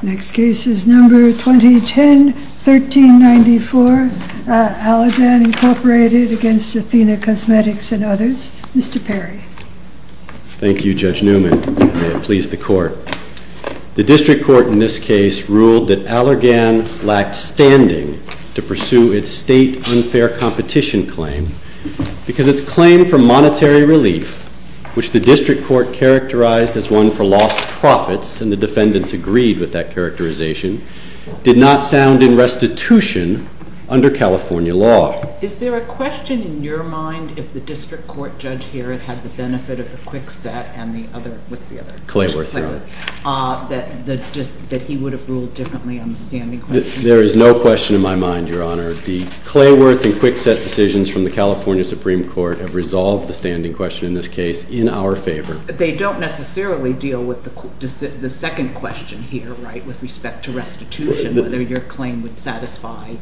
Next case is number 2010-1394, Allergan Incorporated against Athena Cosmetics and others. Mr. Perry. Thank you, Judge Newman. May it please the Court. The district court in this case ruled that Allergan lacked standing to pursue its state unfair competition claim because its claim for monetary relief, which the district court characterized as one for lost profits, and the defendants agreed with that characterization, did not sound in restitution under California law. Is there a question in your mind if the district court judge here had the benefit of the Kwikset and the other, what's the other? Clayworth, Your Honor. Clayworth, that he would have ruled differently on the standing question? There is no question in my mind, Your Honor. The Clayworth and Kwikset decisions from the California Supreme Court have resolved the standing question in this case in our favor. They don't necessarily deal with the second question here, right, with respect to restitution, whether your claim would satisfy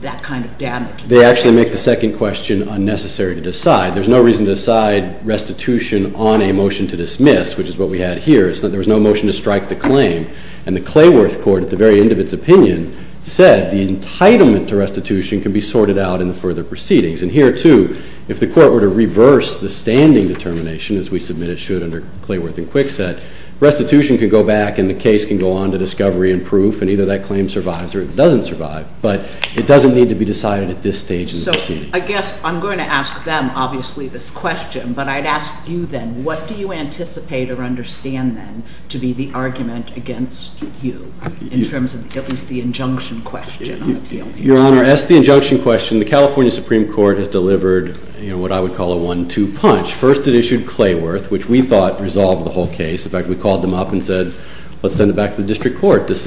that kind of damage. They actually make the second question unnecessary to decide. There's no reason to decide restitution on a motion to dismiss, which is what we had here. There was no motion to strike the claim, and the Clayworth court at the very end of its opinion said the entitlement to restitution can be sorted out in the further proceedings. And here, too, if the court were to reverse the standing determination, as we submit it should under Clayworth and Kwikset, restitution can go back and the case can go on to discovery and proof, and either that claim survives or it doesn't survive. But it doesn't need to be decided at this stage in the proceedings. So I guess I'm going to ask them, obviously, this question, but I'd ask you then, what do you anticipate or understand then to be the argument against you in terms of at least the injunction question? Your Honor, as to the injunction question, the California Supreme Court has delivered what I would call a one-two punch. First, it issued Clayworth, which we thought resolved the whole case. In fact, we called them up and said, let's send it back to the district court. We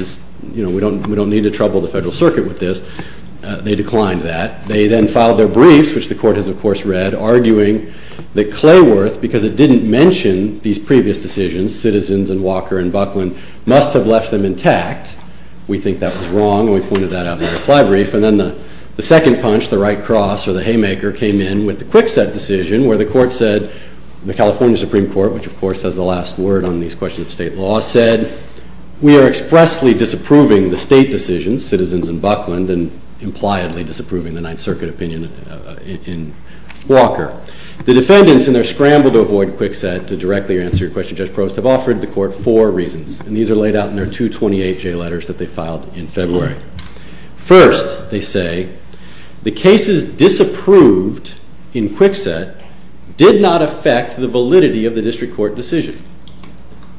don't need to trouble the Federal Circuit with this. They declined that. They then filed their briefs, which the court has, of course, read, arguing that Clayworth, because it didn't mention these previous decisions, Citizens and Walker and Buckland, must have left them intact. We think that was wrong, and we pointed that out in the reply brief. And then the second punch, the right cross or the haymaker, came in with the Kwikset decision, where the court said, the California Supreme Court, which, of course, has the last word on these questions of state law, said, we are expressly disapproving the state decisions, Citizens and Buckland, and impliedly disapproving the Ninth Circuit opinion in Walker. The defendants, in their scramble to avoid Kwikset to directly answer your question, Judge Provost, have offered the court four reasons, and these are laid out in their 228J letters that they filed in February. First, they say, the cases disapproved in Kwikset did not affect the validity of the district court decision.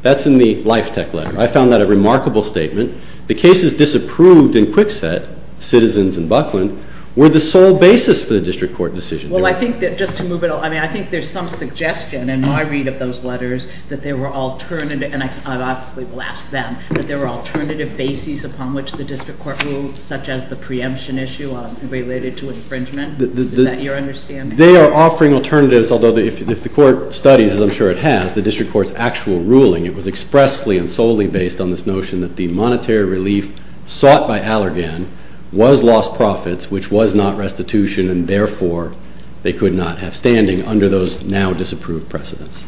That's in the Life Tech letter. I found that a remarkable statement. The cases disapproved in Kwikset, Citizens and Buckland, were the sole basis for the district court decision. Well, I think that just to move it, I mean, I think there's some suggestion in my read of those letters that there were alternative, and I obviously will ask them, that there were alternative bases upon which the district court ruled, such as a preemption issue related to infringement. Is that your understanding? They are offering alternatives, although if the court studies, as I'm sure it has, the district court's actual ruling, it was expressly and solely based on this notion that the monetary relief sought by Allergan was lost profits, which was not restitution, and therefore they could not have standing under those now-disapproved precedents.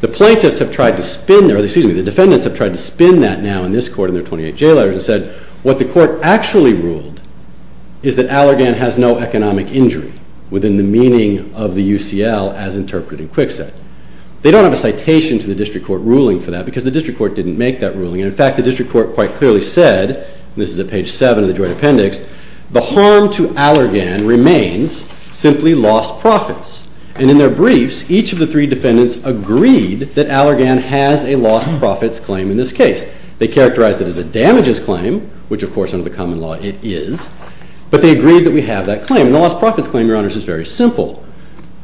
The plaintiffs have tried to spin, excuse me, the defendants have tried to spin that now in this court in their 28 J letters and said what the court actually ruled is that Allergan has no economic injury within the meaning of the UCL as interpreted in Kwikset. They don't have a citation to the district court ruling for that because the district court didn't make that ruling, and in fact the district court quite clearly said, and this is at page 7 of the joint appendix, the harm to Allergan remains simply lost profits, and in their briefs, each of the three defendants agreed that Allergan has a lost profits claim in this case. They characterized it as a damages claim, which of course under the common law it is, but they agreed that we have that claim, and the lost profits claim, Your Honors, is very simple.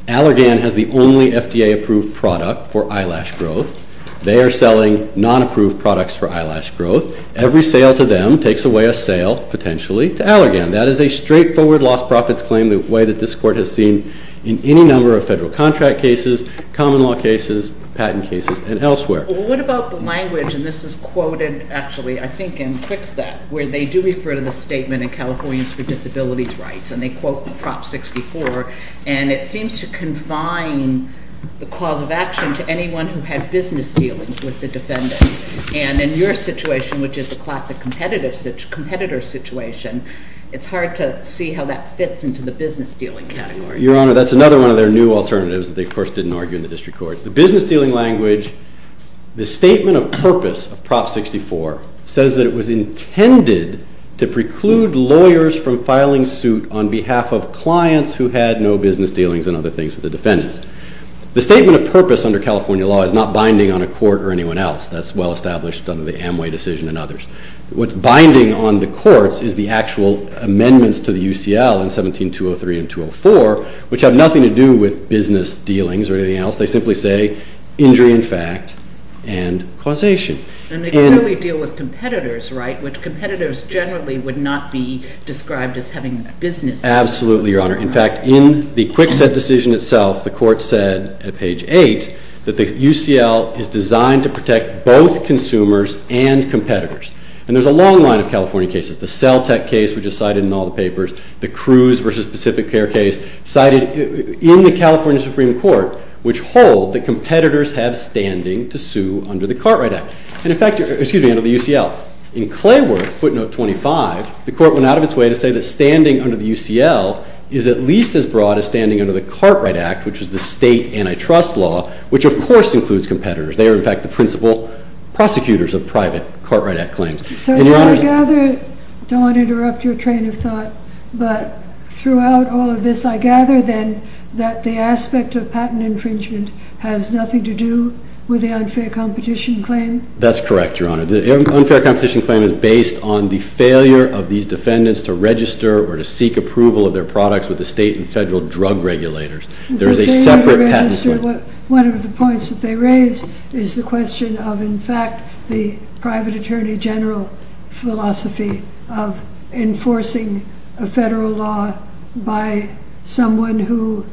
Allergan has the only FDA-approved product for eyelash growth. They are selling non-approved products for eyelash growth. Every sale to them takes away a sale, potentially, to Allergan. That is a straightforward lost profits claim the way that this court has seen in any number of federal contract cases, common law cases, patent cases, and elsewhere. Well, what about the language, and this is quoted, actually, I think in Kwikset, where they do refer to the statement in Californians for Disabilities Rights, and they quote Prop 64, and it seems to confine the cause of action to anyone who had business dealings with the defendant, and in your situation, which is the classic competitor situation, it's hard to see how that fits into the business dealing category. Your Honor, that's another one of their new alternatives that they, of course, didn't argue in the district court. The business dealing language, the statement of purpose of Prop 64 says that it was intended to preclude lawyers from filing suit on behalf of clients who had no business dealings and other things with the defendants. The statement of purpose under California law is not binding on a court or anyone else. That's well established under the Amway decision and others. What's binding on the courts is the actual amendments to the UCL in 17-203 and 17-204, which have nothing to do with business dealings or anything else. They simply say injury in fact and causation. And they clearly deal with competitors, right, which competitors generally would not be described as having business dealings. Absolutely, Your Honor. In fact, in the quick set decision itself, the court said at page 8 that the UCL is designed to protect both consumers and competitors, and there's a long line of California cases. The Cell Tech case, which is cited in all the papers, the Cruz v. Pacific Care case, cited in the California Supreme Court, which hold that competitors have standing to sue under the Cartwright Act. And in fact, excuse me, under the UCL. In Clayworth, footnote 25, the court went out of its way to say that standing under the UCL is at least as broad as standing under the Cartwright Act, which is the state antitrust law, which of course includes competitors. They are in fact the principal prosecutors of private Cartwright Act claims. So I gather, don't want to interrupt your train of thought, but throughout all of this, I gather then that the patent has nothing to do with the unfair competition claim? That's correct, Your Honor. The unfair competition claim is based on the failure of these defendants to register or to seek approval of their products with the state and federal drug regulators. There is a separate patent claim. It's a failure to register. One of the points that they raise is the question of, in fact, the private attorney general philosophy of enforcing a federal law by someone who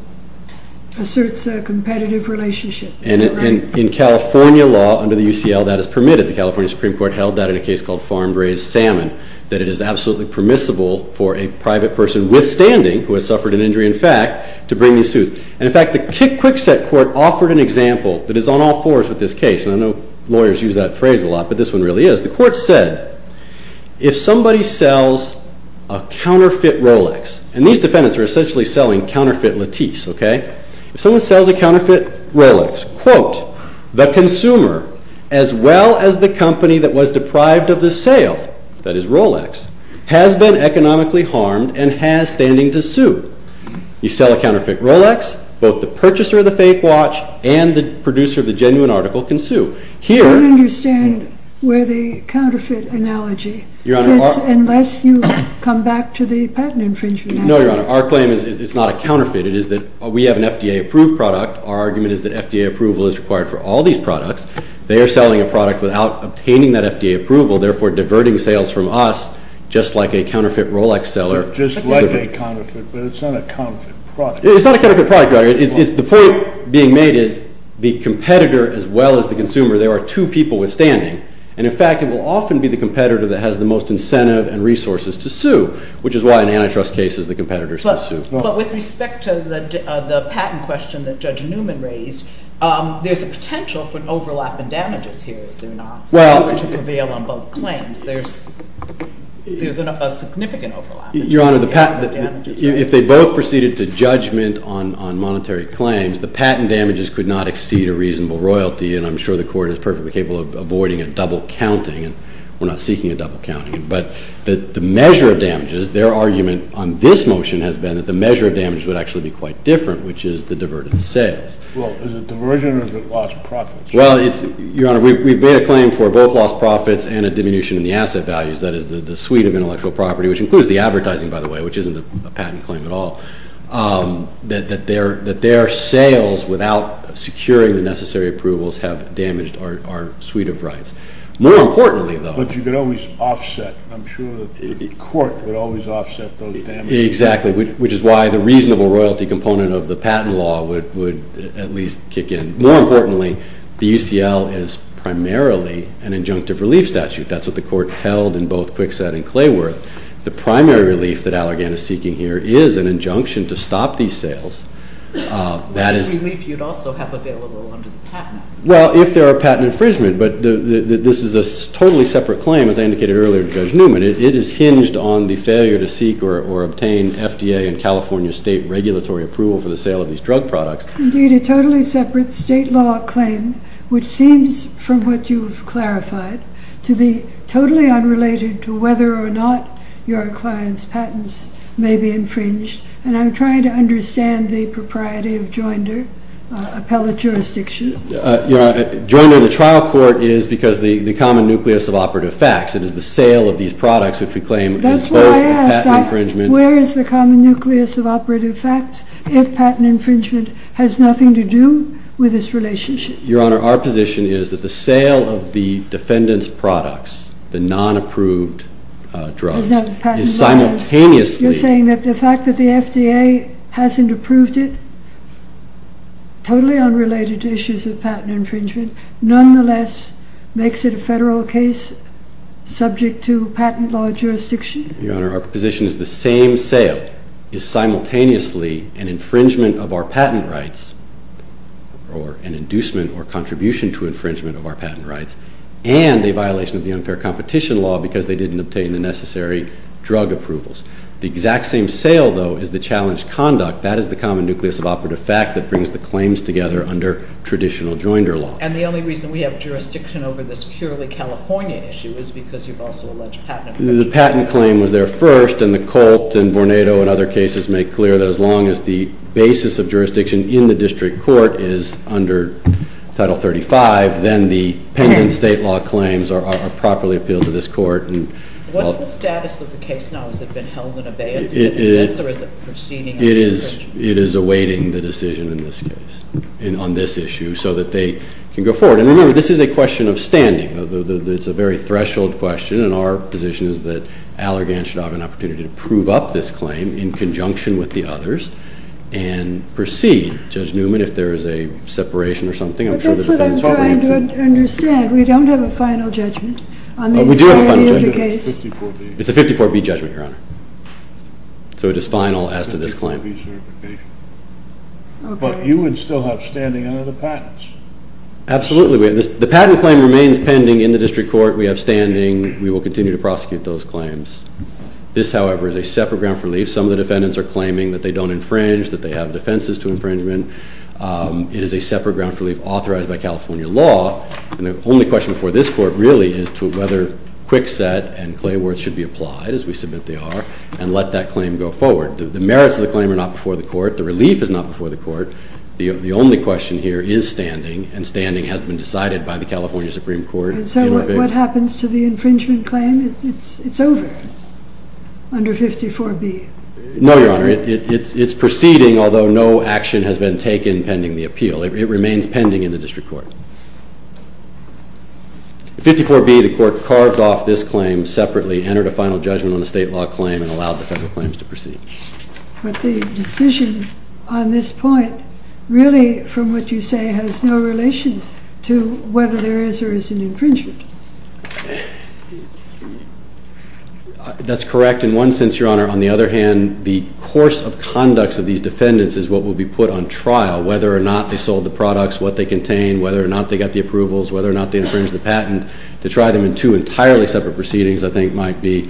asserts a competitive relationship. Is that right? And in California law under the UCL, that is permitted. The California Supreme Court held that in a case called farm-raised salmon, that it is absolutely permissible for a private person withstanding, who has suffered an injury in fact, to bring these suits. And in fact, the Quick Set Court offered an example that is on all fours with this case, and I know lawyers use that phrase a lot, but this one really is. The court said, if somebody sells a counterfeit Rolex, and these defendants are essentially selling counterfeit Lattice, OK, if someone sells a counterfeit Rolex, quote, the consumer, as well as the company that was deprived of the sale, that is Rolex, has been economically harmed and has standing to sue. You sell a counterfeit Rolex, both the purchaser of the fake watch and the producer of the genuine article can sue. Here- I don't understand where the counterfeit analogy fits, unless you come back to the patent infringement aspect. No, Your Honor. Our claim is it's not a counterfeit. It is that we have an FDA-approved product. Our argument is that FDA approval is required for all these products. They are selling a product without obtaining that FDA approval, therefore diverting sales from us, just like a counterfeit Rolex seller. Just like a counterfeit, but it's not a counterfeit product. It's not a counterfeit product, Your Honor. The point being made is the competitor, as well as the consumer, there are two people withstanding. And in fact, it will often be the competitor that has the most incentive and resources to sue, which is why in antitrust cases, the competitors can sue. But with respect to the patent question that Judge Newman raised, there's a potential for an overlap in damages here, is there not, to prevail on both claims. There's a significant overlap. Your Honor, if they both proceeded to judgment on monetary claims, the patent damages could not exceed a reasonable royalty. And I'm sure the court is perfectly capable of avoiding a double counting. We're not seeking a double counting. But the measure of damages, their argument on this motion has been that the measure of damage would actually be quite different, which is the diverted sales. Well, is it diversion or is it lost profits? Well, Your Honor, we've made a claim for both lost profits and a diminution in the asset values, that is the suite of intellectual property, which includes the advertising, by the way, which isn't a patent claim at all, that their sales without securing the necessary approvals have damaged our suite of rights. More importantly, though. But you could always offset. I'm sure the court would always offset those damages. Exactly, which is why the reasonable royalty component of the patent law would at least kick in. More importantly, the UCL is primarily an injunctive relief statute. That's what the court held in both Kwikset and Clayworth. The primary relief that Allergan is seeking here is an injunction to stop these sales. That is relief you'd also have available under the patent. Well, if there are patent infringement. But this is a totally separate claim, as I indicated earlier to Judge Newman. It is hinged on the failure to seek or obtain FDA and California state regulatory approval for the sale of these drug products. Indeed, a totally separate state law claim, which seems, from what you've clarified, to be totally unrelated to whether or not your client's patents may be infringed. And I'm trying to understand the propriety of Joinder, appellate jurisdiction. Joinder, the trial court, is because the common nucleus of operative facts. It is the sale of these products, which we claim is both the patent infringement. That's what I asked. Where is the common nucleus of operative facts if patent infringement has nothing to do with this relationship? Your Honor, our position is that the sale of the defendant's products, the non-approved drugs, is simultaneously. You're saying that the fact that the FDA hasn't approved it, totally unrelated to issues of patent infringement, nonetheless makes it a federal case subject to patent law jurisdiction? Your Honor, our position is the same sale is simultaneously an infringement of our patent rights, or an inducement or contribution to infringement of our patent rights, and a violation of the unfair competition law because they didn't obtain the necessary drug approvals. The exact same sale, though, is the challenged conduct. That is the common nucleus of operative fact that brings the claims together under traditional Joinder law. And the only reason we have jurisdiction over this purely California issue is because you've also alleged patent infringement. The patent claim was there first, and the Colt and Vornado and other cases make clear that as long as the basis of jurisdiction in the district court is under Title 35, then the pending state law claims are properly appealed to this court. What's the status of the case now? Has it been held in abeyance? Is it in this, or is it proceeding? It is awaiting the decision in this case on this issue so that they can go forward. And remember, this is a question of standing. It's a very threshold question, and our position is that Allergan should have an opportunity to prove up this claim in conjunction with the others and proceed. Judge Newman, if there is a separation or something, I'm sure that the defense will agree to it. But that's what I'm trying to understand. We don't have a final judgment on the entirety of the case. It's a 54B judgment, Your Honor. So it is final as to this claim. But you would still have standing under the patents. Absolutely. The patent claim remains pending in the district court. We have standing. We will continue to prosecute those claims. This, however, is a separate ground for relief. Some of the defendants are claiming that they don't infringe, that they have defenses to infringement. It is a separate ground for relief authorized by California law. And the only question before this court really is to whether Kwikset and Clayworth should be applied, as we submit they are, and let that claim go forward. The merits of the claim are not before the court. The relief is not before the court. The only question here is standing. And standing has been decided by the California Supreme Court. And so what happens to the infringement claim? It's over under 54B. No, Your Honor. It's proceeding, although no action has been taken pending the appeal. It remains pending in the district court. 54B, the court carved off this claim separately, entered a final judgment on the state law claim, and allowed the federal claims to proceed. But the decision on this point, really, from what you say, has no relation to whether there is or isn't infringement. That's correct. In one sense, Your Honor, on the other hand, the course of conducts of these defendants is what will be put on trial. Whether or not they sold the products, what they contain, whether or not they got the approvals, whether or not they infringed the patent, to try them in two entirely separate proceedings, I think, might be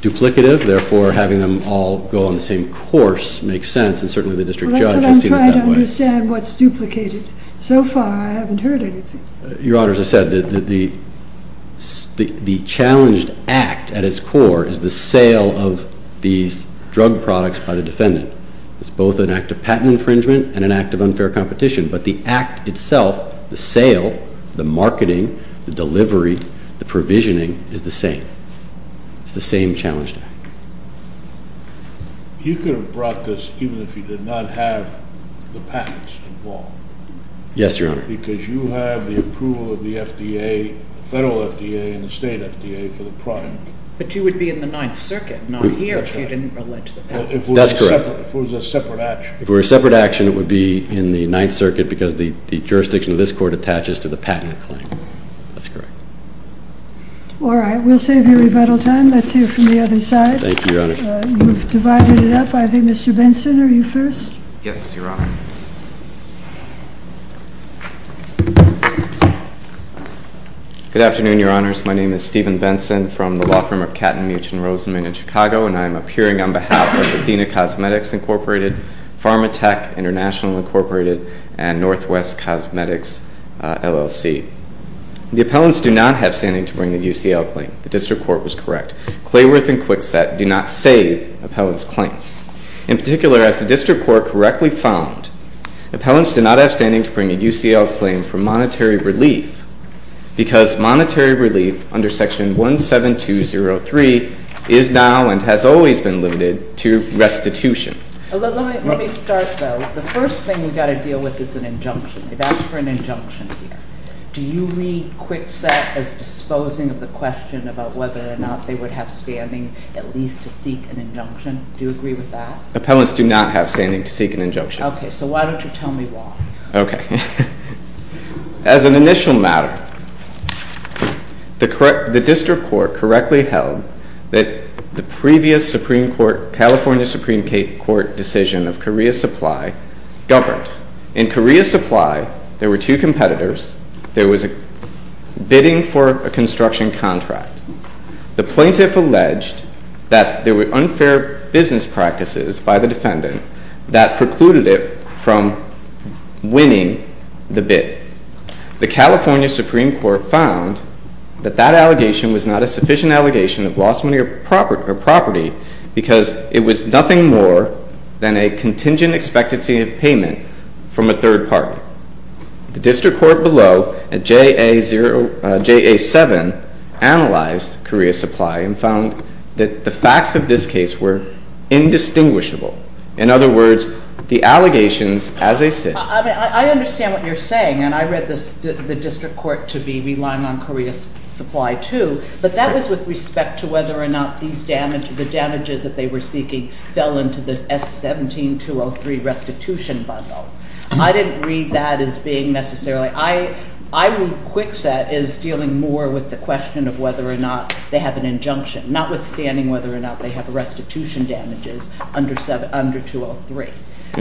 duplicative. Therefore, having them all go on the same course makes sense. And certainly, the district judge has seen it that way. Well, that's what I'm trying to understand, what's duplicated. So far, I haven't heard anything. Your Honor, as I said, the challenged act at its core is the sale of these drug products by the defendant. It's both an act of patent infringement and an act of unfair competition. But the act itself, the sale, the marketing, the delivery, the provisioning, is the same. It's the same challenged act. You could have brought this even if you did not have the patents involved. Yes, Your Honor. Because you have the approval of the FDA, the federal FDA, and the state FDA for the product. But you would be in the Ninth Circuit, not here, if you didn't relate to the patents. That's correct. If it was a separate action. If it were a separate action, it would be in the Ninth Circuit, because the jurisdiction of this court attaches to the patent claim. That's correct. All right. We'll save you rebuttal time. Let's hear from the other side. Thank you, Your Honor. You've divided it up. I think Mr. Benson, are you first? Yes, Your Honor. Good afternoon, Your Honors. My name is Steven Benson from the law firm of Katten, Meech, and Roseman in Chicago. And I'm appearing on behalf of Athena Cosmetics, Incorporated, PharmaTech International, Incorporated, and Northwest Cosmetics, LLC. The appellants do not have standing to bring a UCL claim. The district court was correct. Clayworth and Kwikset do not save appellants' claims. In particular, as the district court correctly found, appellants do not have standing to bring a UCL claim for monetary relief, because monetary relief under Section 17203 is now and has always been limited to restitution. Let me start, though. The first thing we've got to deal with is an injunction. We've asked for an injunction here. Do you read Kwikset as disposing of the question about whether or not they would have standing at least to seek an injunction? Do you agree with that? Appellants do not have standing to seek an injunction. OK, so why don't you tell me why? OK. As an initial matter, the district court correctly held that the previous California Supreme Court decision of Korea Supply governed. In Korea Supply, there were two competitors. There was a bidding for a construction contract. The plaintiff alleged that there were unfair business practices by the defendant that precluded it from winning the bid. The California Supreme Court found that that allegation was not a sufficient allegation of lost money or property because it was nothing more than a contingent expectancy of payment from a third party. The district court below at JA7 analyzed Korea Supply and found that the facts of this case were indistinguishable. In other words, the allegations as they sit. I understand what you're saying. And I read the district court to be relying on Korea Supply too. But that was with respect to whether or not the damages that they were seeking fell into the S17-203 restitution bundle. I didn't read that as being necessarily. I read Kwikset as dealing more with the question of whether or not they have an injunction, notwithstanding whether or not they have restitution damages under 203.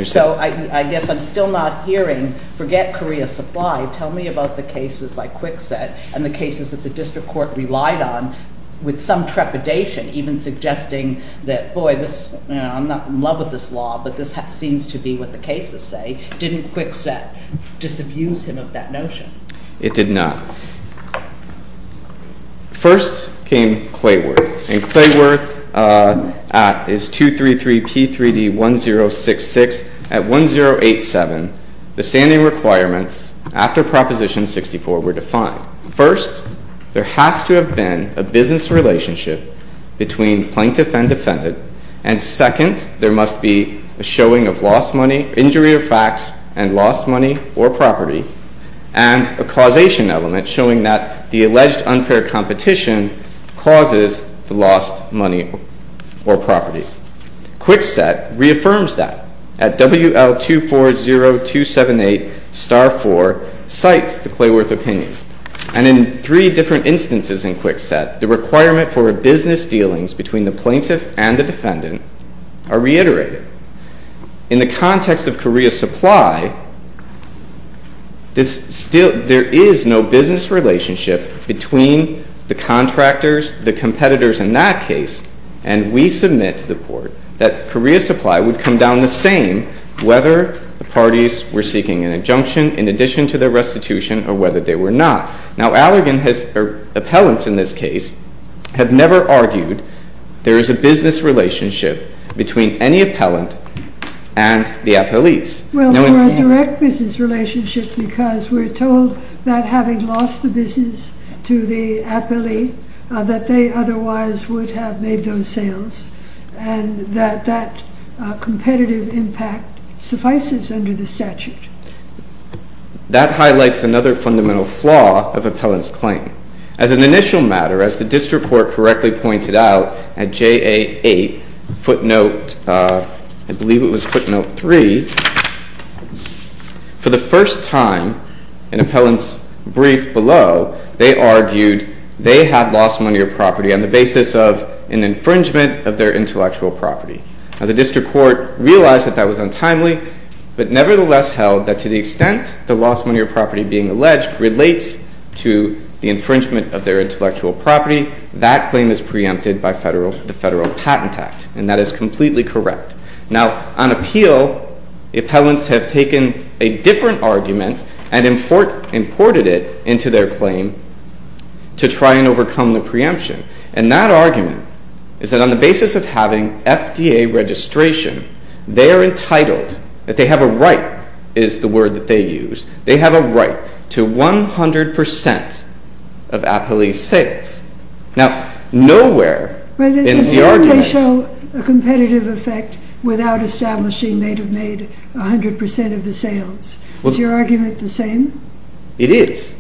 So I guess I'm still not hearing, forget Korea Supply, tell me about the cases like Kwikset and the cases that the district court relied on with some trepidation, even suggesting that, boy, I'm not in love with this law, but this seems to be what the cases say. Didn't Kwikset disabuse him of that notion? It did not. First came Clayworth. And Clayworth is 233P3D1066. At 1087, the standing requirements after Proposition 64 were defined. First, there has to have been a business relationship between plaintiff and defendant. And second, there must be a showing of lost money, injury or fact, and lost money or property, and a causation element showing that the alleged unfair competition causes the lost money or property. Kwikset reaffirms that at WL240278-4, cites the Clayworth opinion. And in three different instances in Kwikset, the requirement for business dealings between the plaintiff and the defendant are reiterated. In the context of Korea Supply, there is no business relationship between the contractors, the competitors in that case. And we submit to the court that Korea Supply would come down the same whether the parties were seeking an injunction in addition to their restitution or whether they were not. Now, appellants in this case have never argued there is a business relationship between any appellant and the appellees. Well, for a direct business relationship, because we're told that having lost the business to the appellee, that they otherwise would have made those sales, and that that competitive impact suffices under the statute. That highlights another fundamental flaw of appellant's claim. As an initial matter, as the district court correctly pointed out at JA8 footnote, I believe it was footnote three, for the first time in appellant's brief below, they argued they had lost money or property on the basis of an infringement of their intellectual property. Now, the district court realized that that was untimely, but nevertheless held that to the extent the lost money or property being alleged relates to the infringement of their intellectual property, that claim is preempted by the Federal Patent Act. And that is completely correct. Now, on appeal, appellants have taken a different argument and imported it into their claim to try and overcome the preemption. And that argument is that on the basis of having FDA registration, they are entitled, that they have a right, is the word that they use, they have a right to 100% of appellee's sales. Now, nowhere in the argument. But it certainly show a competitive effect without establishing they'd have made 100% of the sales. Is your argument the same? It is.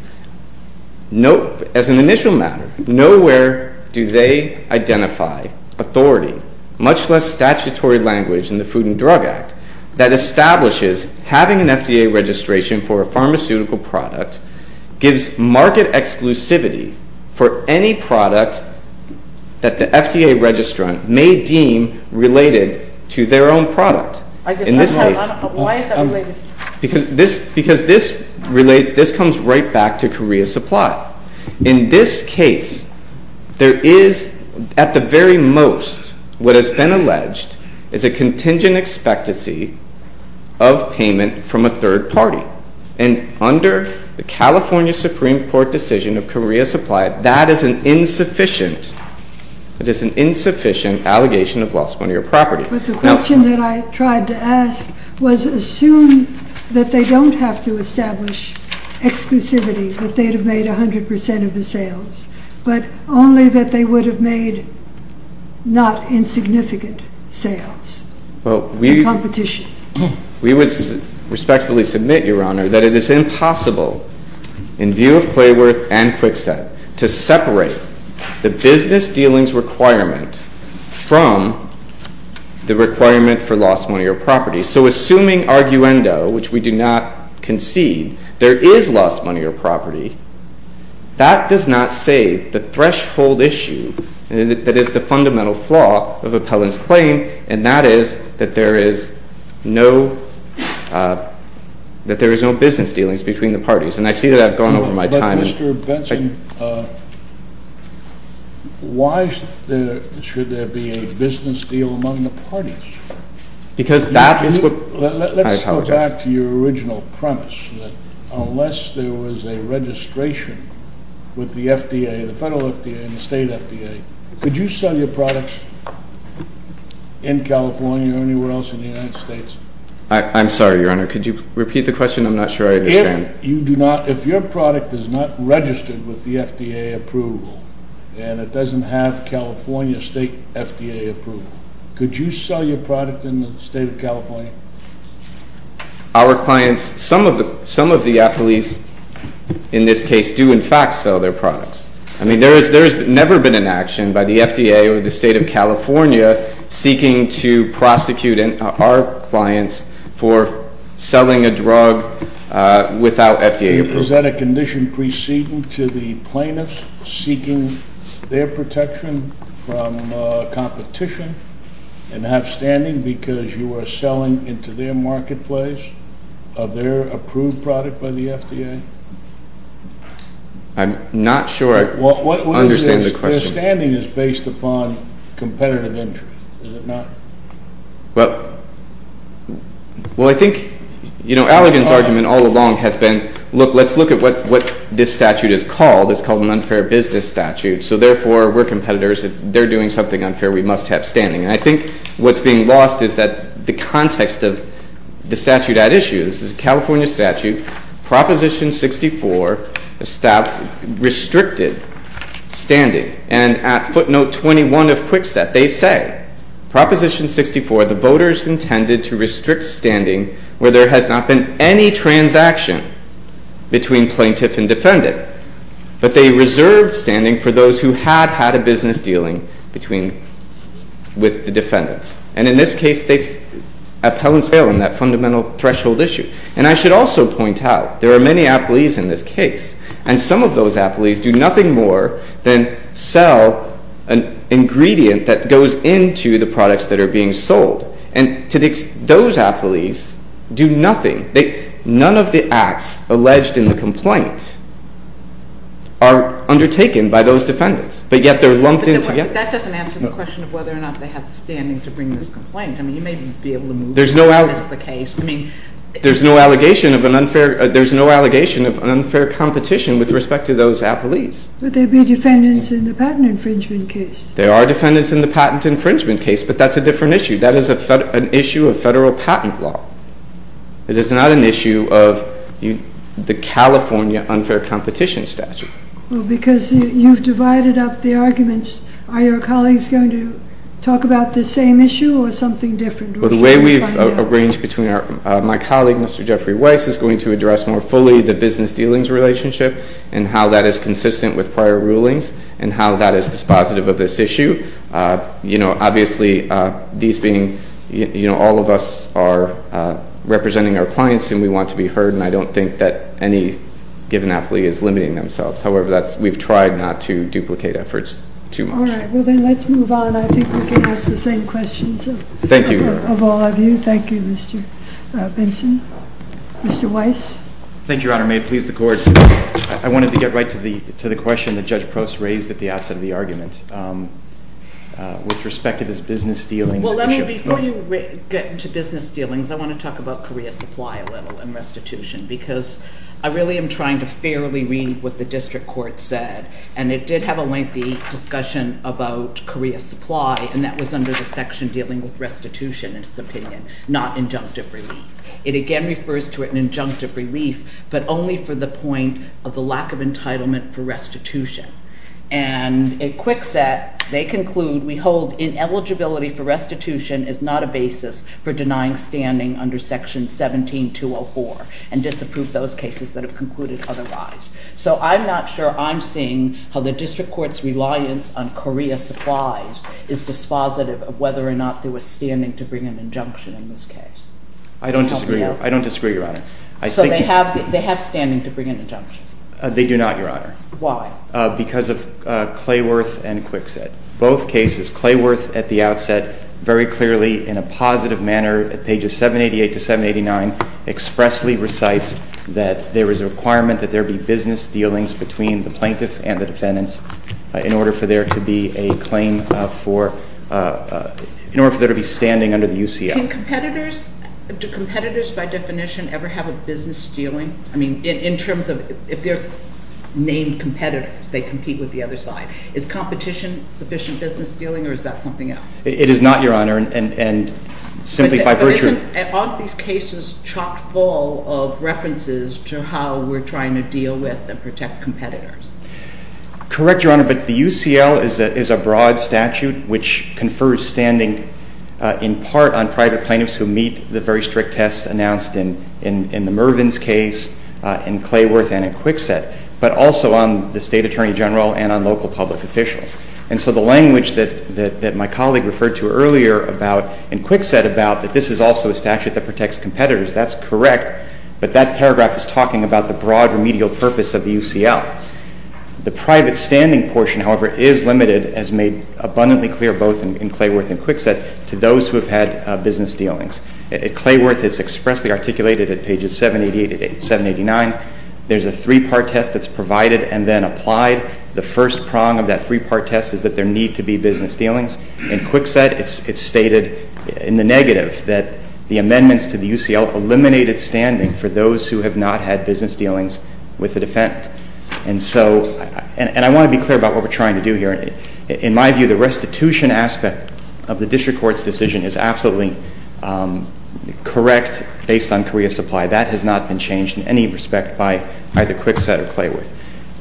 Nope, as an initial matter, nowhere do they identify authority, much less statutory language in the Food and Drug Act, that establishes having an FDA registration for a pharmaceutical product gives market exclusivity for any product that the FDA registrant may deem related to their own product. In this case, because this relates, this comes right back to Korea Supply. In this case, there is, at the very most, what has been alleged is a contingent expectancy of payment from a third party. And under the California Supreme Court decision of Korea Supply, that is an insufficient, that is an insufficient allegation of lost money or property. But the question that I tried to ask was assume that they don't have to establish exclusivity, that they'd have made 100% of the sales, but only that they would have made not insignificant sales. Well, we would respectfully submit, Your Honor, that it is impossible, in view of Clayworth and Kwikset, to separate the business dealings requirement from the requirement for lost money or property. So assuming arguendo, which we do not concede, there is lost money or property, that does not save the threshold issue that is the fundamental flaw of Appellant's claim, and that is that there is no business dealings between the parties. And I see that I've gone over my time. But Mr. Benson, why should there be a business deal among the parties? Because that is what I apologize for. Let's go back to your original premise, that unless there was a registration with the FDA, the federal FDA and the state FDA, could you sell your products in California or anywhere else in the United States? I'm sorry, Your Honor. Could you repeat the question? I'm not sure I understand. If you do not, if your product is not registered with the FDA approval, and it doesn't have California state FDA approval, could you sell your product in the state of California? Our clients, some of the appellees in this case do, in fact, sell their products. I mean, there has never been an action by the FDA or the state of California seeking to prosecute our clients for selling a drug without FDA approval. Is that a condition preceding to the plaintiffs seeking their protection from competition and have standing because you are selling into their marketplace of their approved product by the FDA? I'm not sure I understand the question. Their standing is based upon competitive interest, is it not? Well, I think, you know, Allegan's argument all along has been, look, let's look at what this statute is called. It's called an unfair business statute. So therefore, we're competitors. If they're doing something unfair, we must have standing. And I think what's being lost is that the context of the statute at issue, this is a California statute, Proposition 64 restricted standing. And at footnote 21 of Quick Step, they say, Proposition 64, the voters intended to restrict standing where there has not been any transaction between plaintiff and defendant. But they reserved standing for those who had had a business dealing with the defendants. And in this case, appellants fail in that fundamental threshold issue. And I should also point out, there are many applees in this case. And some of those applees do nothing more than sell an ingredient that goes into the products that are being sold. And those applees do nothing. None of the acts alleged in the complaint are undertaken by those defendants. But yet, they're lumped in together. But that doesn't answer the question of whether or not they have standing to bring this complaint. I mean, you may be able to move on. That is the case. I mean, there's no allegation of an unfair competition with respect to those applees. But there'd be defendants in the patent infringement case. There are defendants in the patent infringement case. But that's a different issue. That is an issue of federal patent law. It is not an issue of the California unfair competition statute. Well, because you've divided up the arguments, are your colleagues going to talk about the same issue or something different? Well, the way we've arranged between our, my colleague Mr. Jeffrey Weiss is going to address more fully the business dealings relationship and how that is consistent with prior rulings and how that is dispositive of this issue. You know, obviously, these being all of us are representing our clients, and we want to be heard. And I don't think that any given applee is limiting themselves. However, we've tried not to duplicate efforts too much. All right. Well, then let's move on. I think we can ask the same questions of all of you. Thank you, Mr. Benson. Mr. Weiss? Thank you, Your Honor. May it please the Court. I wanted to get right to the question that Judge Prost raised at the outset of the argument. With respect to this business dealings issue. Well, let me, before you get into business dealings, I want to talk about career supply a little and restitution, because I really am trying to fairly read what the district court said. And it did have a lengthy discussion about career supply, and that was under the section dealing with restitution, in its opinion, not injunctive relief. It again refers to it in injunctive relief, but only for the point of the lack of entitlement for restitution. And at Kwikset, they conclude, we hold ineligibility for restitution is not a basis for denying standing under section 17204, and disapprove those cases that have concluded otherwise. So I'm not sure I'm seeing how the district court's reliance on career supplies is dispositive of whether or not there was standing to bring an injunction in this case. I don't disagree. I don't disagree, Your Honor. So they have standing to bring an injunction? They do not, Your Honor. Why? Because of Clayworth and Kwikset. Both cases, Clayworth, at the outset, very clearly in a positive manner at pages 788 to 789, expressly recites that there is a requirement that there be business dealings between the plaintiff and the defendants in order for there to be a claim for, in order for there to be standing under the UCF. Can competitors, do competitors by definition ever have a business dealing? I mean, in terms of if they're named competitors, they compete with the other side. Is competition sufficient business dealing, or is that something else? It is not, Your Honor. And simply by virtue of it. Aren't these cases chock full of references to how we're trying to deal with and protect competitors? Correct, Your Honor, but the UCL is a broad statute which confers standing in part on private plaintiffs who meet the very strict tests announced in the Mervyn's case, in Clayworth, and in Kwikset, but also on the state attorney general and on local public officials. And so the language that my colleague referred to earlier about in Kwikset about that this is also a statute that protects competitors, that's correct. But that paragraph is talking about the broad remedial purpose of the UCL. The private standing portion, however, is limited as made abundantly clear both in Clayworth and Kwikset to those who have had business dealings. Clayworth is expressly articulated at pages 789. There's a three-part test that's provided and then applied. The first prong of that three-part test is that there need to be business dealings. In Kwikset, it's stated in the negative that the amendments to the UCL eliminated standing for those who have not had business dealings with the defendant. And so, and I want to be clear about what we're trying to do here. In my view, the restitution aspect of the district court's decision is absolutely correct based on career supply. That has not been changed in any respect by either Kwikset or Clayworth.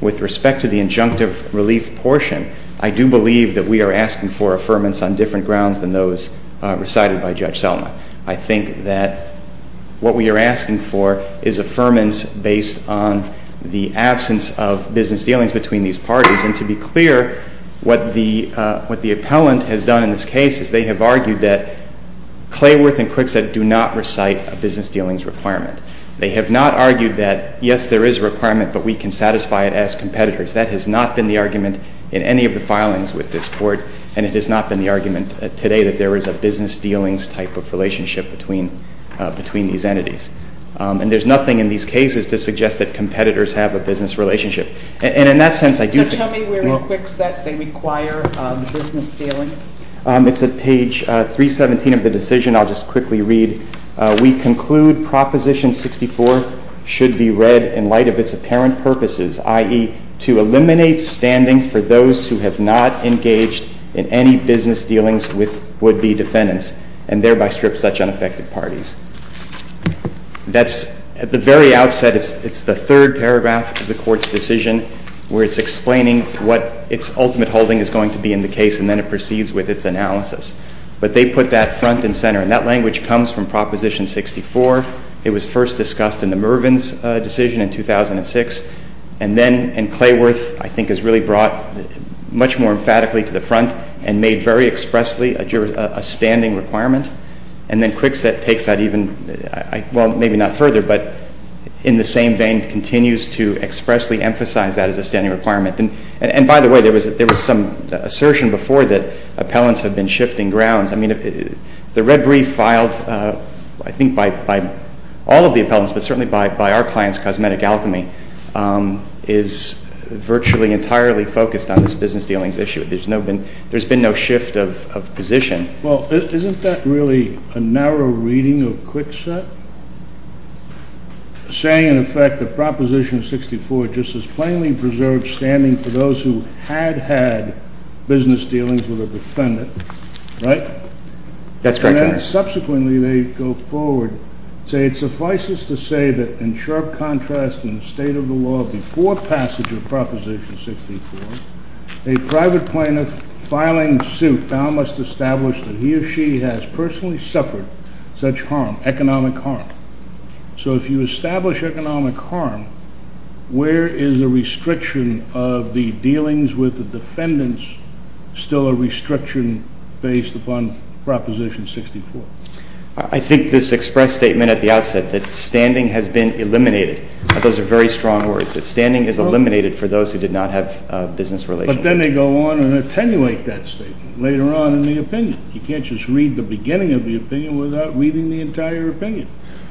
With respect to the injunctive relief portion, I do believe that we are asking for affirmance on different grounds than those recited by Judge Selma. I think that what we are asking for is affirmance based on the absence of business dealings between these parties. And to be clear, what the appellant has done in this case is they have argued that Clayworth and Kwikset do not recite a business dealings requirement. They have not argued that, yes, there is a requirement, but we can satisfy it as competitors. That has not been the argument in any of the filings with this court. And it has not been the argument today that there is a business dealings type of relationship between these entities. And there's nothing in these cases to suggest that competitors have a business relationship. And in that sense, I do think that, well. So tell me where in Kwikset they require business dealings? It's at page 317 of the decision. I'll just quickly read. We conclude Proposition 64 should be read in light of its apparent purposes, i.e. to eliminate standing for those who have not engaged in any business dealings with would-be defendants and thereby strip such unaffected parties. That's at the very outset. It's the third paragraph of the court's decision where it's explaining what its ultimate holding is going to be in the case. And then it proceeds with its analysis. But they put that front and center. And that language comes from Proposition 64. It was first discussed in the Mervyn's decision in 2006. And then Clayworth, I think, has really brought much more emphatically to the front and made very expressly a standing requirement. And then Kwikset takes that even, well, maybe not further. But in the same vein, continues to expressly emphasize that as a standing requirement. And by the way, there was some assertion before that appellants have been shifting grounds. I mean, the red brief filed, I think, by all of the appellants, but certainly by our clients, Cosmetic Alchemy, is virtually entirely focused on this business dealings issue. There's been no shift of position. Well, isn't that really a narrow reading of Kwikset, saying, in effect, that Proposition 64 just plainly preserves standing for those who had had business dealings with a defendant, right? That's correct, Your Honor. And then subsequently, they go forward, say it suffices to say that in sharp contrast in the state of the law before passage of Proposition 64, a private plaintiff filing suit now must establish that he or she has personally suffered such harm, economic harm. So if you establish economic harm, where is the restriction of the dealings with the defendants still a restriction based upon Proposition 64? I think this expressed statement at the outset that standing has been eliminated. Those are very strong words, that standing is eliminated for those who did not have business relations. But then they go on and attenuate that statement later on in the opinion. You can't just read the beginning of the opinion without reading the entire opinion.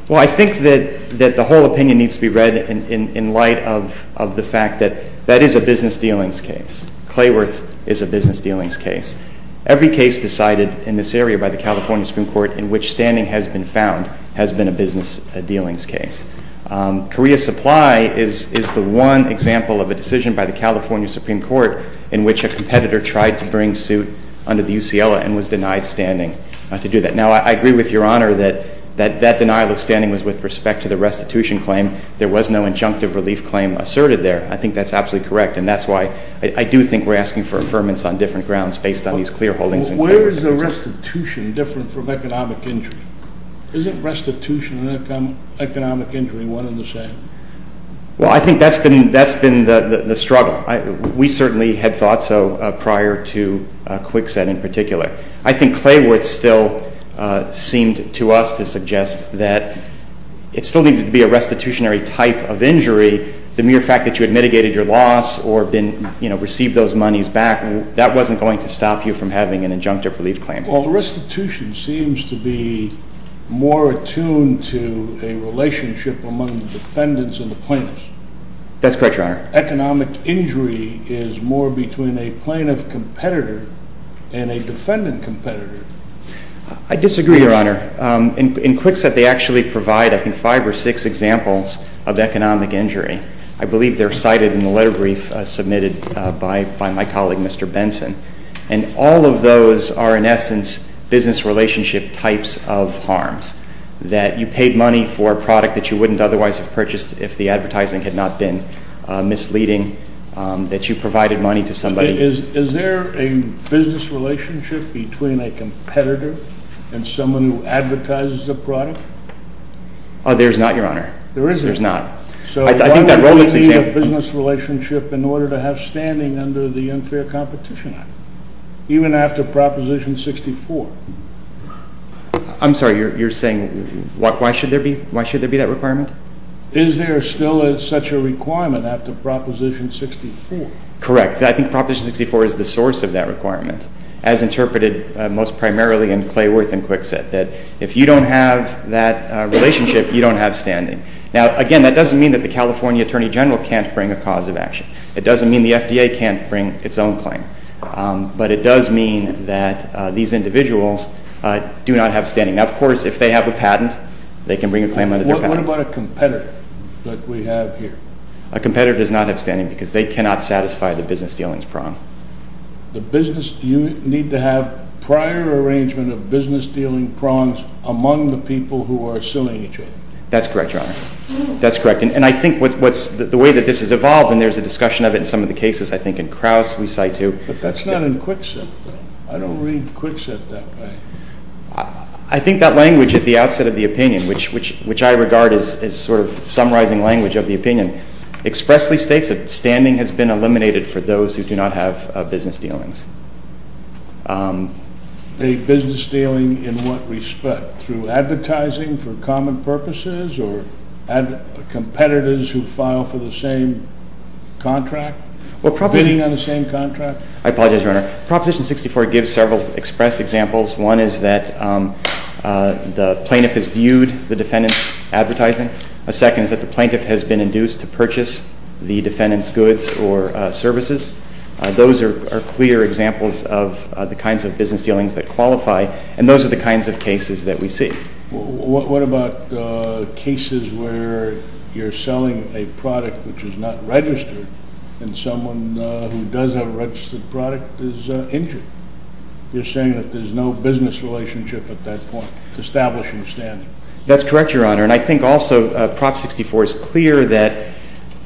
Well, I think that the whole opinion needs to be read in light of the fact that that is a business dealings case. Clayworth is a business dealings case. Every case decided in this area by the California Supreme Court in which standing has been found has been a business dealings case. Korea Supply is the one example of a decision by the California Supreme Court in which a competitor tried to bring suit under the UCLA and was denied standing to do that. Now, I agree with Your Honor that that denial of standing was with respect to the restitution claim. There was no injunctive relief claim asserted there. I think that's absolutely correct. And that's why I do think we're asking for affirmance on different grounds based on these clear holdings. Where is the restitution different from economic injury? Isn't restitution and economic injury one and the same? Well, I think that's been the struggle. We certainly had thought so prior to Kwikset in particular. I think Clayworth still seemed to us to suggest that it still needed to be a restitutionary type of injury. The mere fact that you had mitigated your loss or received those monies back, that wasn't going to stop you from having an injunctive relief claim. Well, the restitution seems to be more attuned to a relationship among the defendants and the plaintiffs. That's correct, Your Honor. Economic injury is more between a plaintiff competitor and a defendant competitor. I disagree, Your Honor. In Kwikset, they actually provide, I think, five or six examples of economic injury. I believe they're cited in the letter brief submitted by my colleague, Mr. Benson. And all of those are, in essence, business relationship types of harms. That you paid money for a product that you wouldn't otherwise have purchased if the advertising had not been misleading. That you provided money to somebody. Is there a business relationship between a competitor and someone who advertises a product? There's not, Your Honor. There isn't. There's not. So why would we need a business relationship in order to have standing under the Unfair Competition Act, even after Proposition 64? I'm sorry, you're saying, why should there be that requirement? Is there still such a requirement after Proposition 64? Correct. I think Proposition 64 is the source of that requirement. As interpreted most primarily in Clayworth and Kwikset, that if you don't have that relationship, you don't have standing. Now, again, that doesn't mean that the California Attorney General can't bring a cause of action. It doesn't mean the FDA can't bring its own claim. But it does mean that these individuals do not have standing. Now, of course, if they have a patent, they can bring a claim under their patent. What about a competitor that we have here? A competitor does not have standing, because they cannot satisfy the business dealings prong. The business, you need to have prior arrangement of business dealing prongs among the people who are suing each other. That's correct, Your Honor. That's correct. And I think the way that this has evolved, and there's a discussion of it in some of the cases, I think in Krauss we cite too. But that's not in Kwikset. I don't read Kwikset that way. I think that language at the outset of the opinion, which I regard as sort of summarizing language of the opinion, expressly states that standing has been eliminated for those who do not have business dealings. A business dealing in what respect? Through advertising for common purposes, or competitors who file for the same contract? Or bidding on the same contract? I apologize, Your Honor. Proposition 64 gives several express examples. One is that the plaintiff has viewed the defendant's advertising. A second is that the plaintiff has been induced to purchase the defendant's goods or services. Those are clear examples of the kinds of business dealings that qualify. And those are the kinds of cases that we see. What about cases where you're selling a product which is not registered, and someone who does have a registered product is injured? You're saying that there's no business relationship at that point, establishing standing. That's correct, Your Honor. And I think also Prop 64 is clear that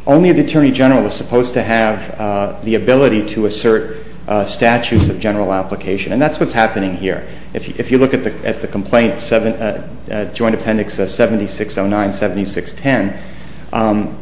only the attorney general is supposed to have the ability to assert statutes of general application. And that's what's happening here. If you look at the complaint, Joint Appendix 7609-7610,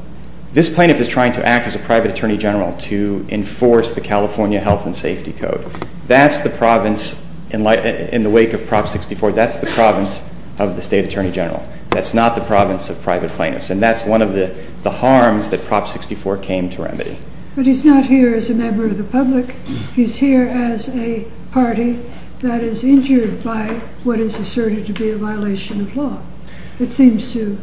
this plaintiff is trying to act as a private attorney general to enforce the California Health and Safety Code. That's the province, in the wake of Prop 64, that's the province of the state attorney general. That's not the province of private plaintiffs. And that's one of the harms that Prop 64 came to remedy. But he's not here as a member of the public. He's here as a party that is injured by what is asserted to be a violation of law. It seems to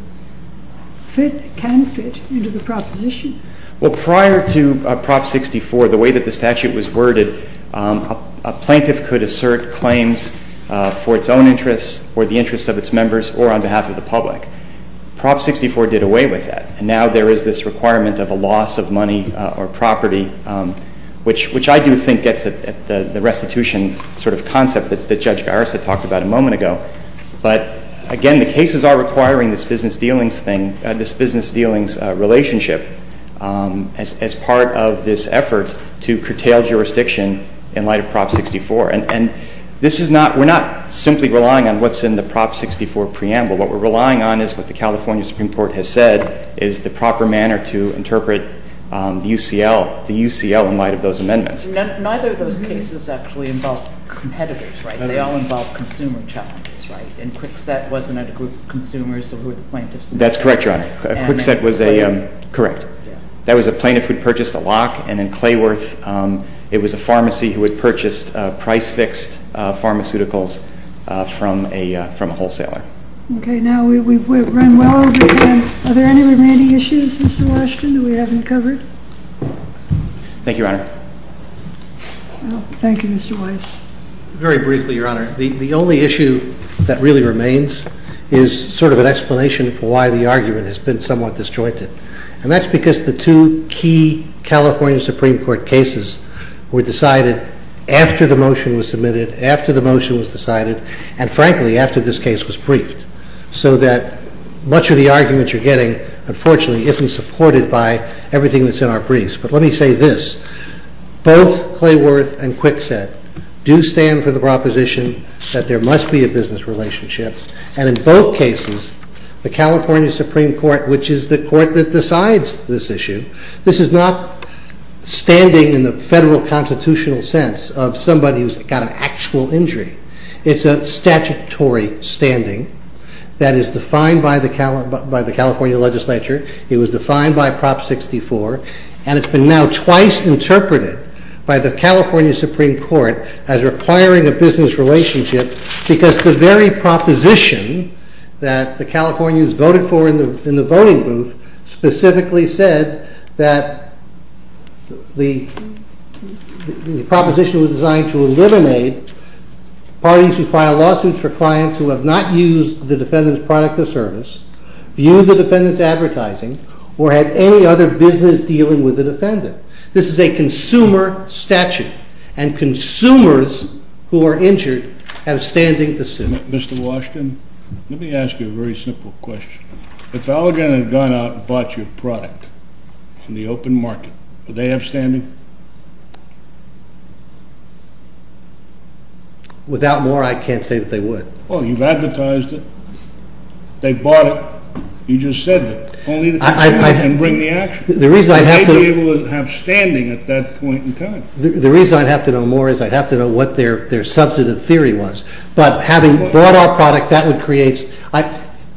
fit, can fit, into the proposition. Well, prior to Prop 64, the way that the statute was worded, a plaintiff could assert claims for its own interests or the interests of its members or on behalf of the public. Prop 64 did away with that. And now there is this requirement of a loss of money or property, which I do think gets at the restitution sort of concept that Judge Garris had talked about a moment ago. But again, the cases are requiring this business dealings thing, this business dealings relationship, as part of this effort to curtail jurisdiction in light of Prop 64. And we're not simply relying on what's in the Prop 64 preamble. What we're relying on is what the California Supreme Court has said is the proper manner to interpret the UCL in light of those amendments. Neither of those cases actually involved competitors, right? They all involved consumer challenges, right? And Kwikset wasn't a group of consumers who were the plaintiffs. That's correct, Your Honor. Kwikset was a- Correct. That was a plaintiff who purchased a lock. And in Clayworth, it was a pharmacy who had purchased price-fixed pharmaceuticals from a wholesaler. OK, now we've run well over time. Are there any remaining issues, Mr. Washington, that we haven't covered? Thank you, Your Honor. Thank you, Mr. Weiss. Very briefly, Your Honor, the only issue that really remains is sort of an explanation for why the argument has been somewhat disjointed. And that's because the two key California Supreme Court cases were decided after the motion was submitted, after the motion was decided, and frankly, after this case was briefed. So that much of the argument you're getting, unfortunately, isn't supported by everything that's in our briefs. But let me say this. Both Clayworth and Kwikset do stand for the proposition that there must be a business relationship. And in both cases, the California Supreme Court, which is the court that decides this issue, this is not standing in the federal constitutional sense of somebody who's got an actual injury. It's a statutory standing that is defined by the California legislature. It was defined by Prop 64. And it's been now twice interpreted by the California Supreme Court as requiring a business relationship, because the very proposition that the Californians voted for in the voting booth specifically said that the proposition was designed to eliminate parties who file lawsuits for clients who have not used the defendant's product or service, viewed the defendant's advertising, or had any other business dealing with the defendant. This is a consumer statute. And consumers who are injured have standing to sue. Mr. Washington, let me ask you a very simple question. If Allegan had gone out and bought your product in the open market, would they have standing? Without more, I can't say that they would. Well, you've advertised it. They've bought it. You just said that. Only the defendant can bring the action. The reason I have to know more is I have to know what their substantive theory was. But having bought our product, that would create,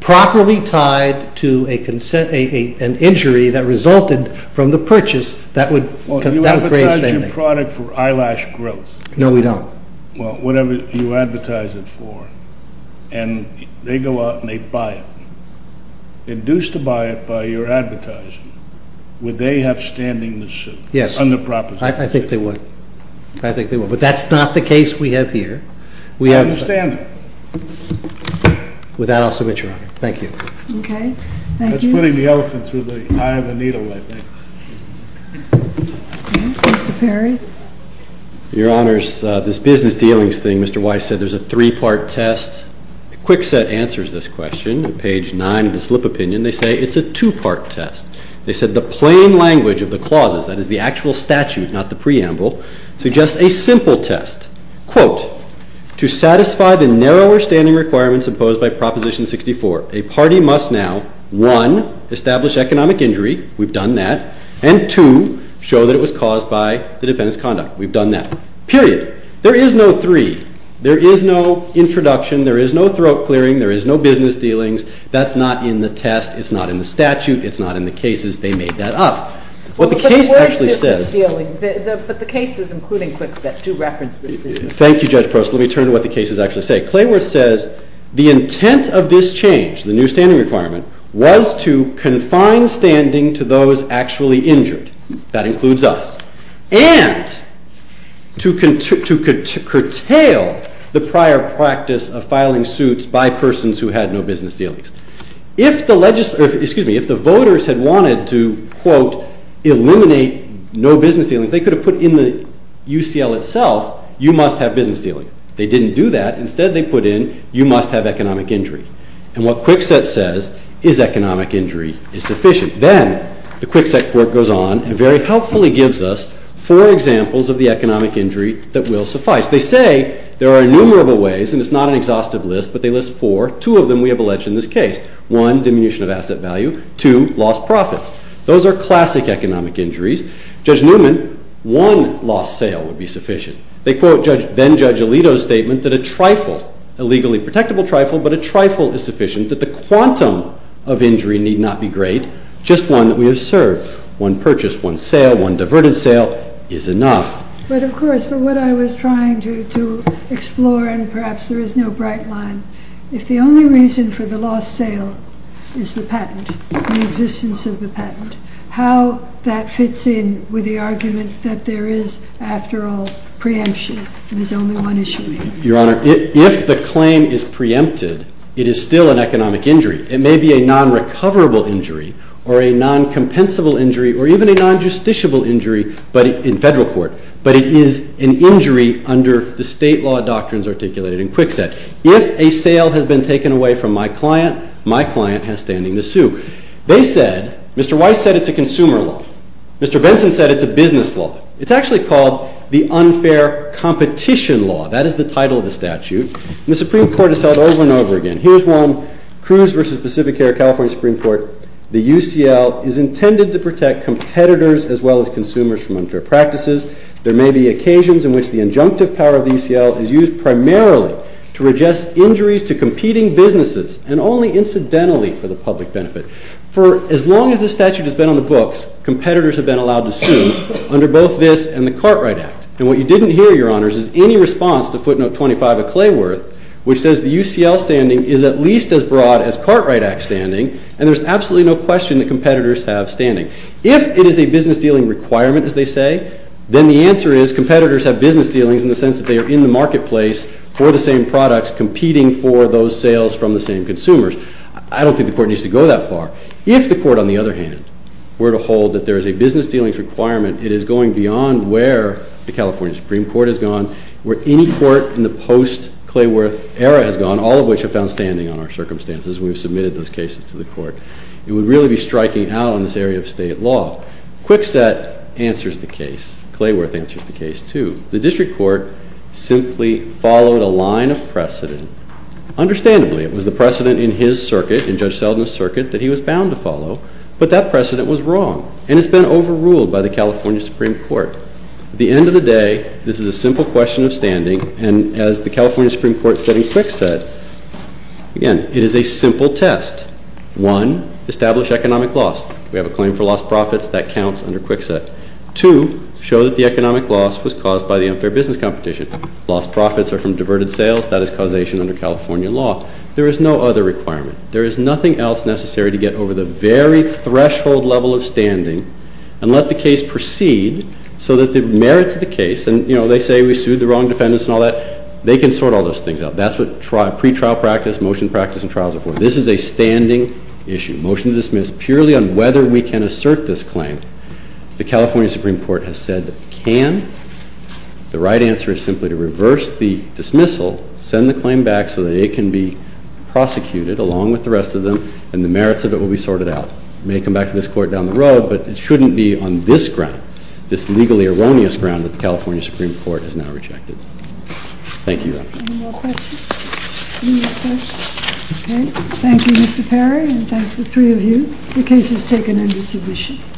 properly tied to an injury that resulted from the purchase, that would create standing. Well, you advertised your product for eyelash growth. No, we don't. Well, whatever you advertise it for. And they go out and they buy it. Induced to buy it by your advertising, would they have standing to sue? Yes. Under proposition. I think they would. I think they would. But that's not the case we have here. I understand that. With that, I'll submit, Your Honor. Thank you. OK. Thank you. That's putting the elephant through the eye of the needle, I think. Mr. Perry? Your Honors, this business dealings thing, Mr. Weiss said, there's a three-part test. Quickset answers this question. Page 9 of the slip opinion, they say it's a two-part test. They said the plain language of the clauses, that is the actual statute, not the preamble, suggests a simple test. Quote, to satisfy the narrower standing requirements imposed by proposition 64, a party must now, one, establish economic injury. We've done that. And two, show that it was caused by the defendant's conduct. We've done that. Period. There is no three. There is no introduction. There is no throat clearing. There is no business dealings. That's not in the test. It's not in the statute. It's not in the cases. They made that up. What the case actually says. But the case is including Quickset to reference this business dealings. Thank you, Judge Prost. Let me turn to what the cases actually say. Clayworth says, the intent of this change, the new standing requirement, was to confine standing to those actually injured. That includes us. And to curtail the prior practice of filing suits by persons who had no business dealings. If the voters had wanted to, quote, eliminate no business dealings, they could have put in the UCL itself, you must have business dealings. They didn't do that. Instead, they put in, you must have economic injury. And what Quickset says is economic injury is sufficient. Then the Quickset court goes on and very helpfully gives us four examples of the economic injury that will suffice. They say there are innumerable ways, and it's not an exhaustive list, but they list four. Two of them we have alleged in this case. One, diminution of asset value. Two, lost profits. Those are classic economic injuries. Judge Newman, one lost sale would be sufficient. They quote then Judge Alito's statement that a trifle, a legally protectable trifle, but a trifle is sufficient, that the quantum of injury need not be great, just one that we have served. One purchase, one sale, one diverted sale is enough. But of course, for what I was trying to explore, and perhaps there is no bright line, if the only reason for the lost sale is the patent, the existence of the patent, how that fits in with the argument that there is, after all, preemption, and there's only one issue. Your Honor, if the claim is preempted, it is still an economic injury. It may be a non-recoverable injury, or a non-compensable injury, or even a non-justiciable injury in federal court, but it is an injury under the state law doctrines articulated in Kwikset. If a sale has been taken away from my client, my client has standing to sue. They said, Mr. Weiss said it's a consumer law. Mr. Benson said it's a business law. It's actually called the unfair competition law. That is the title of the statute. And the Supreme Court has held over and over again. Here's one, Cruz v. Pacific Air, California Supreme Court. The UCL is intended to protect competitors as well as consumers from unfair practices. There may be occasions in which the injunctive power of the UCL is used primarily to reject injuries to competing businesses, and only incidentally for the public benefit. For as long as this statute has been on the books, competitors have been allowed to sue under both this and the Cartwright Act. And what you didn't hear, Your Honors, is any response to footnote 25 of Clayworth, which says the UCL standing is at least as broad as Cartwright Act standing, and there's absolutely no question that competitors have standing. If it is a business dealing requirement, as they say, then the answer is competitors have business dealings in the sense that they are in the marketplace for the same products competing for those sales from the same consumers. I don't think the court needs to go that far. If the court, on the other hand, were to hold that there is a business dealings requirement, it is going beyond where the California Supreme Court has gone, where any court in the post-Clayworth era has gone, all of which have found standing on our circumstances. We've submitted those cases to the court. It would really be striking out on this area of state law. Kwikset answers the case. Clayworth answers the case, too. The district court simply followed a line of precedent. Understandably, it was the precedent in his circuit, in Judge Selden's circuit, that he was bound to follow. But that precedent was wrong, and it's been overruled by the California Supreme Court. At the end of the day, this is a simple question of standing. And as the California Supreme Court said in Kwikset, again, it is a simple test. One, establish economic loss. We have a claim for lost profits. That counts under Kwikset. Two, show that the economic loss was caused by the unfair business competition. Lost profits are from diverted sales. That is causation under California law. There is no other requirement. There is nothing else necessary to get over the very threshold level of standing and let the case proceed so that the merits of the case, and they say we sued the wrong defendants and all that, they can sort all those things out. That's what pretrial practice, motion practice, and trials are for. This is a standing issue. Motion to dismiss purely on whether we can assert this claim. The California Supreme Court has said that can. The right answer is simply to reverse the dismissal, send the claim back so that it can be prosecuted along with the rest of them, and the merits of it will be sorted out. May come back to this court down the road, but it shouldn't be on this ground, this legally erroneous ground that the California Supreme Court has now rejected. Thank you. Any more questions? Any more questions? OK. Thank you, Mr. Perry. And thank the three of you. The case is taken into submission.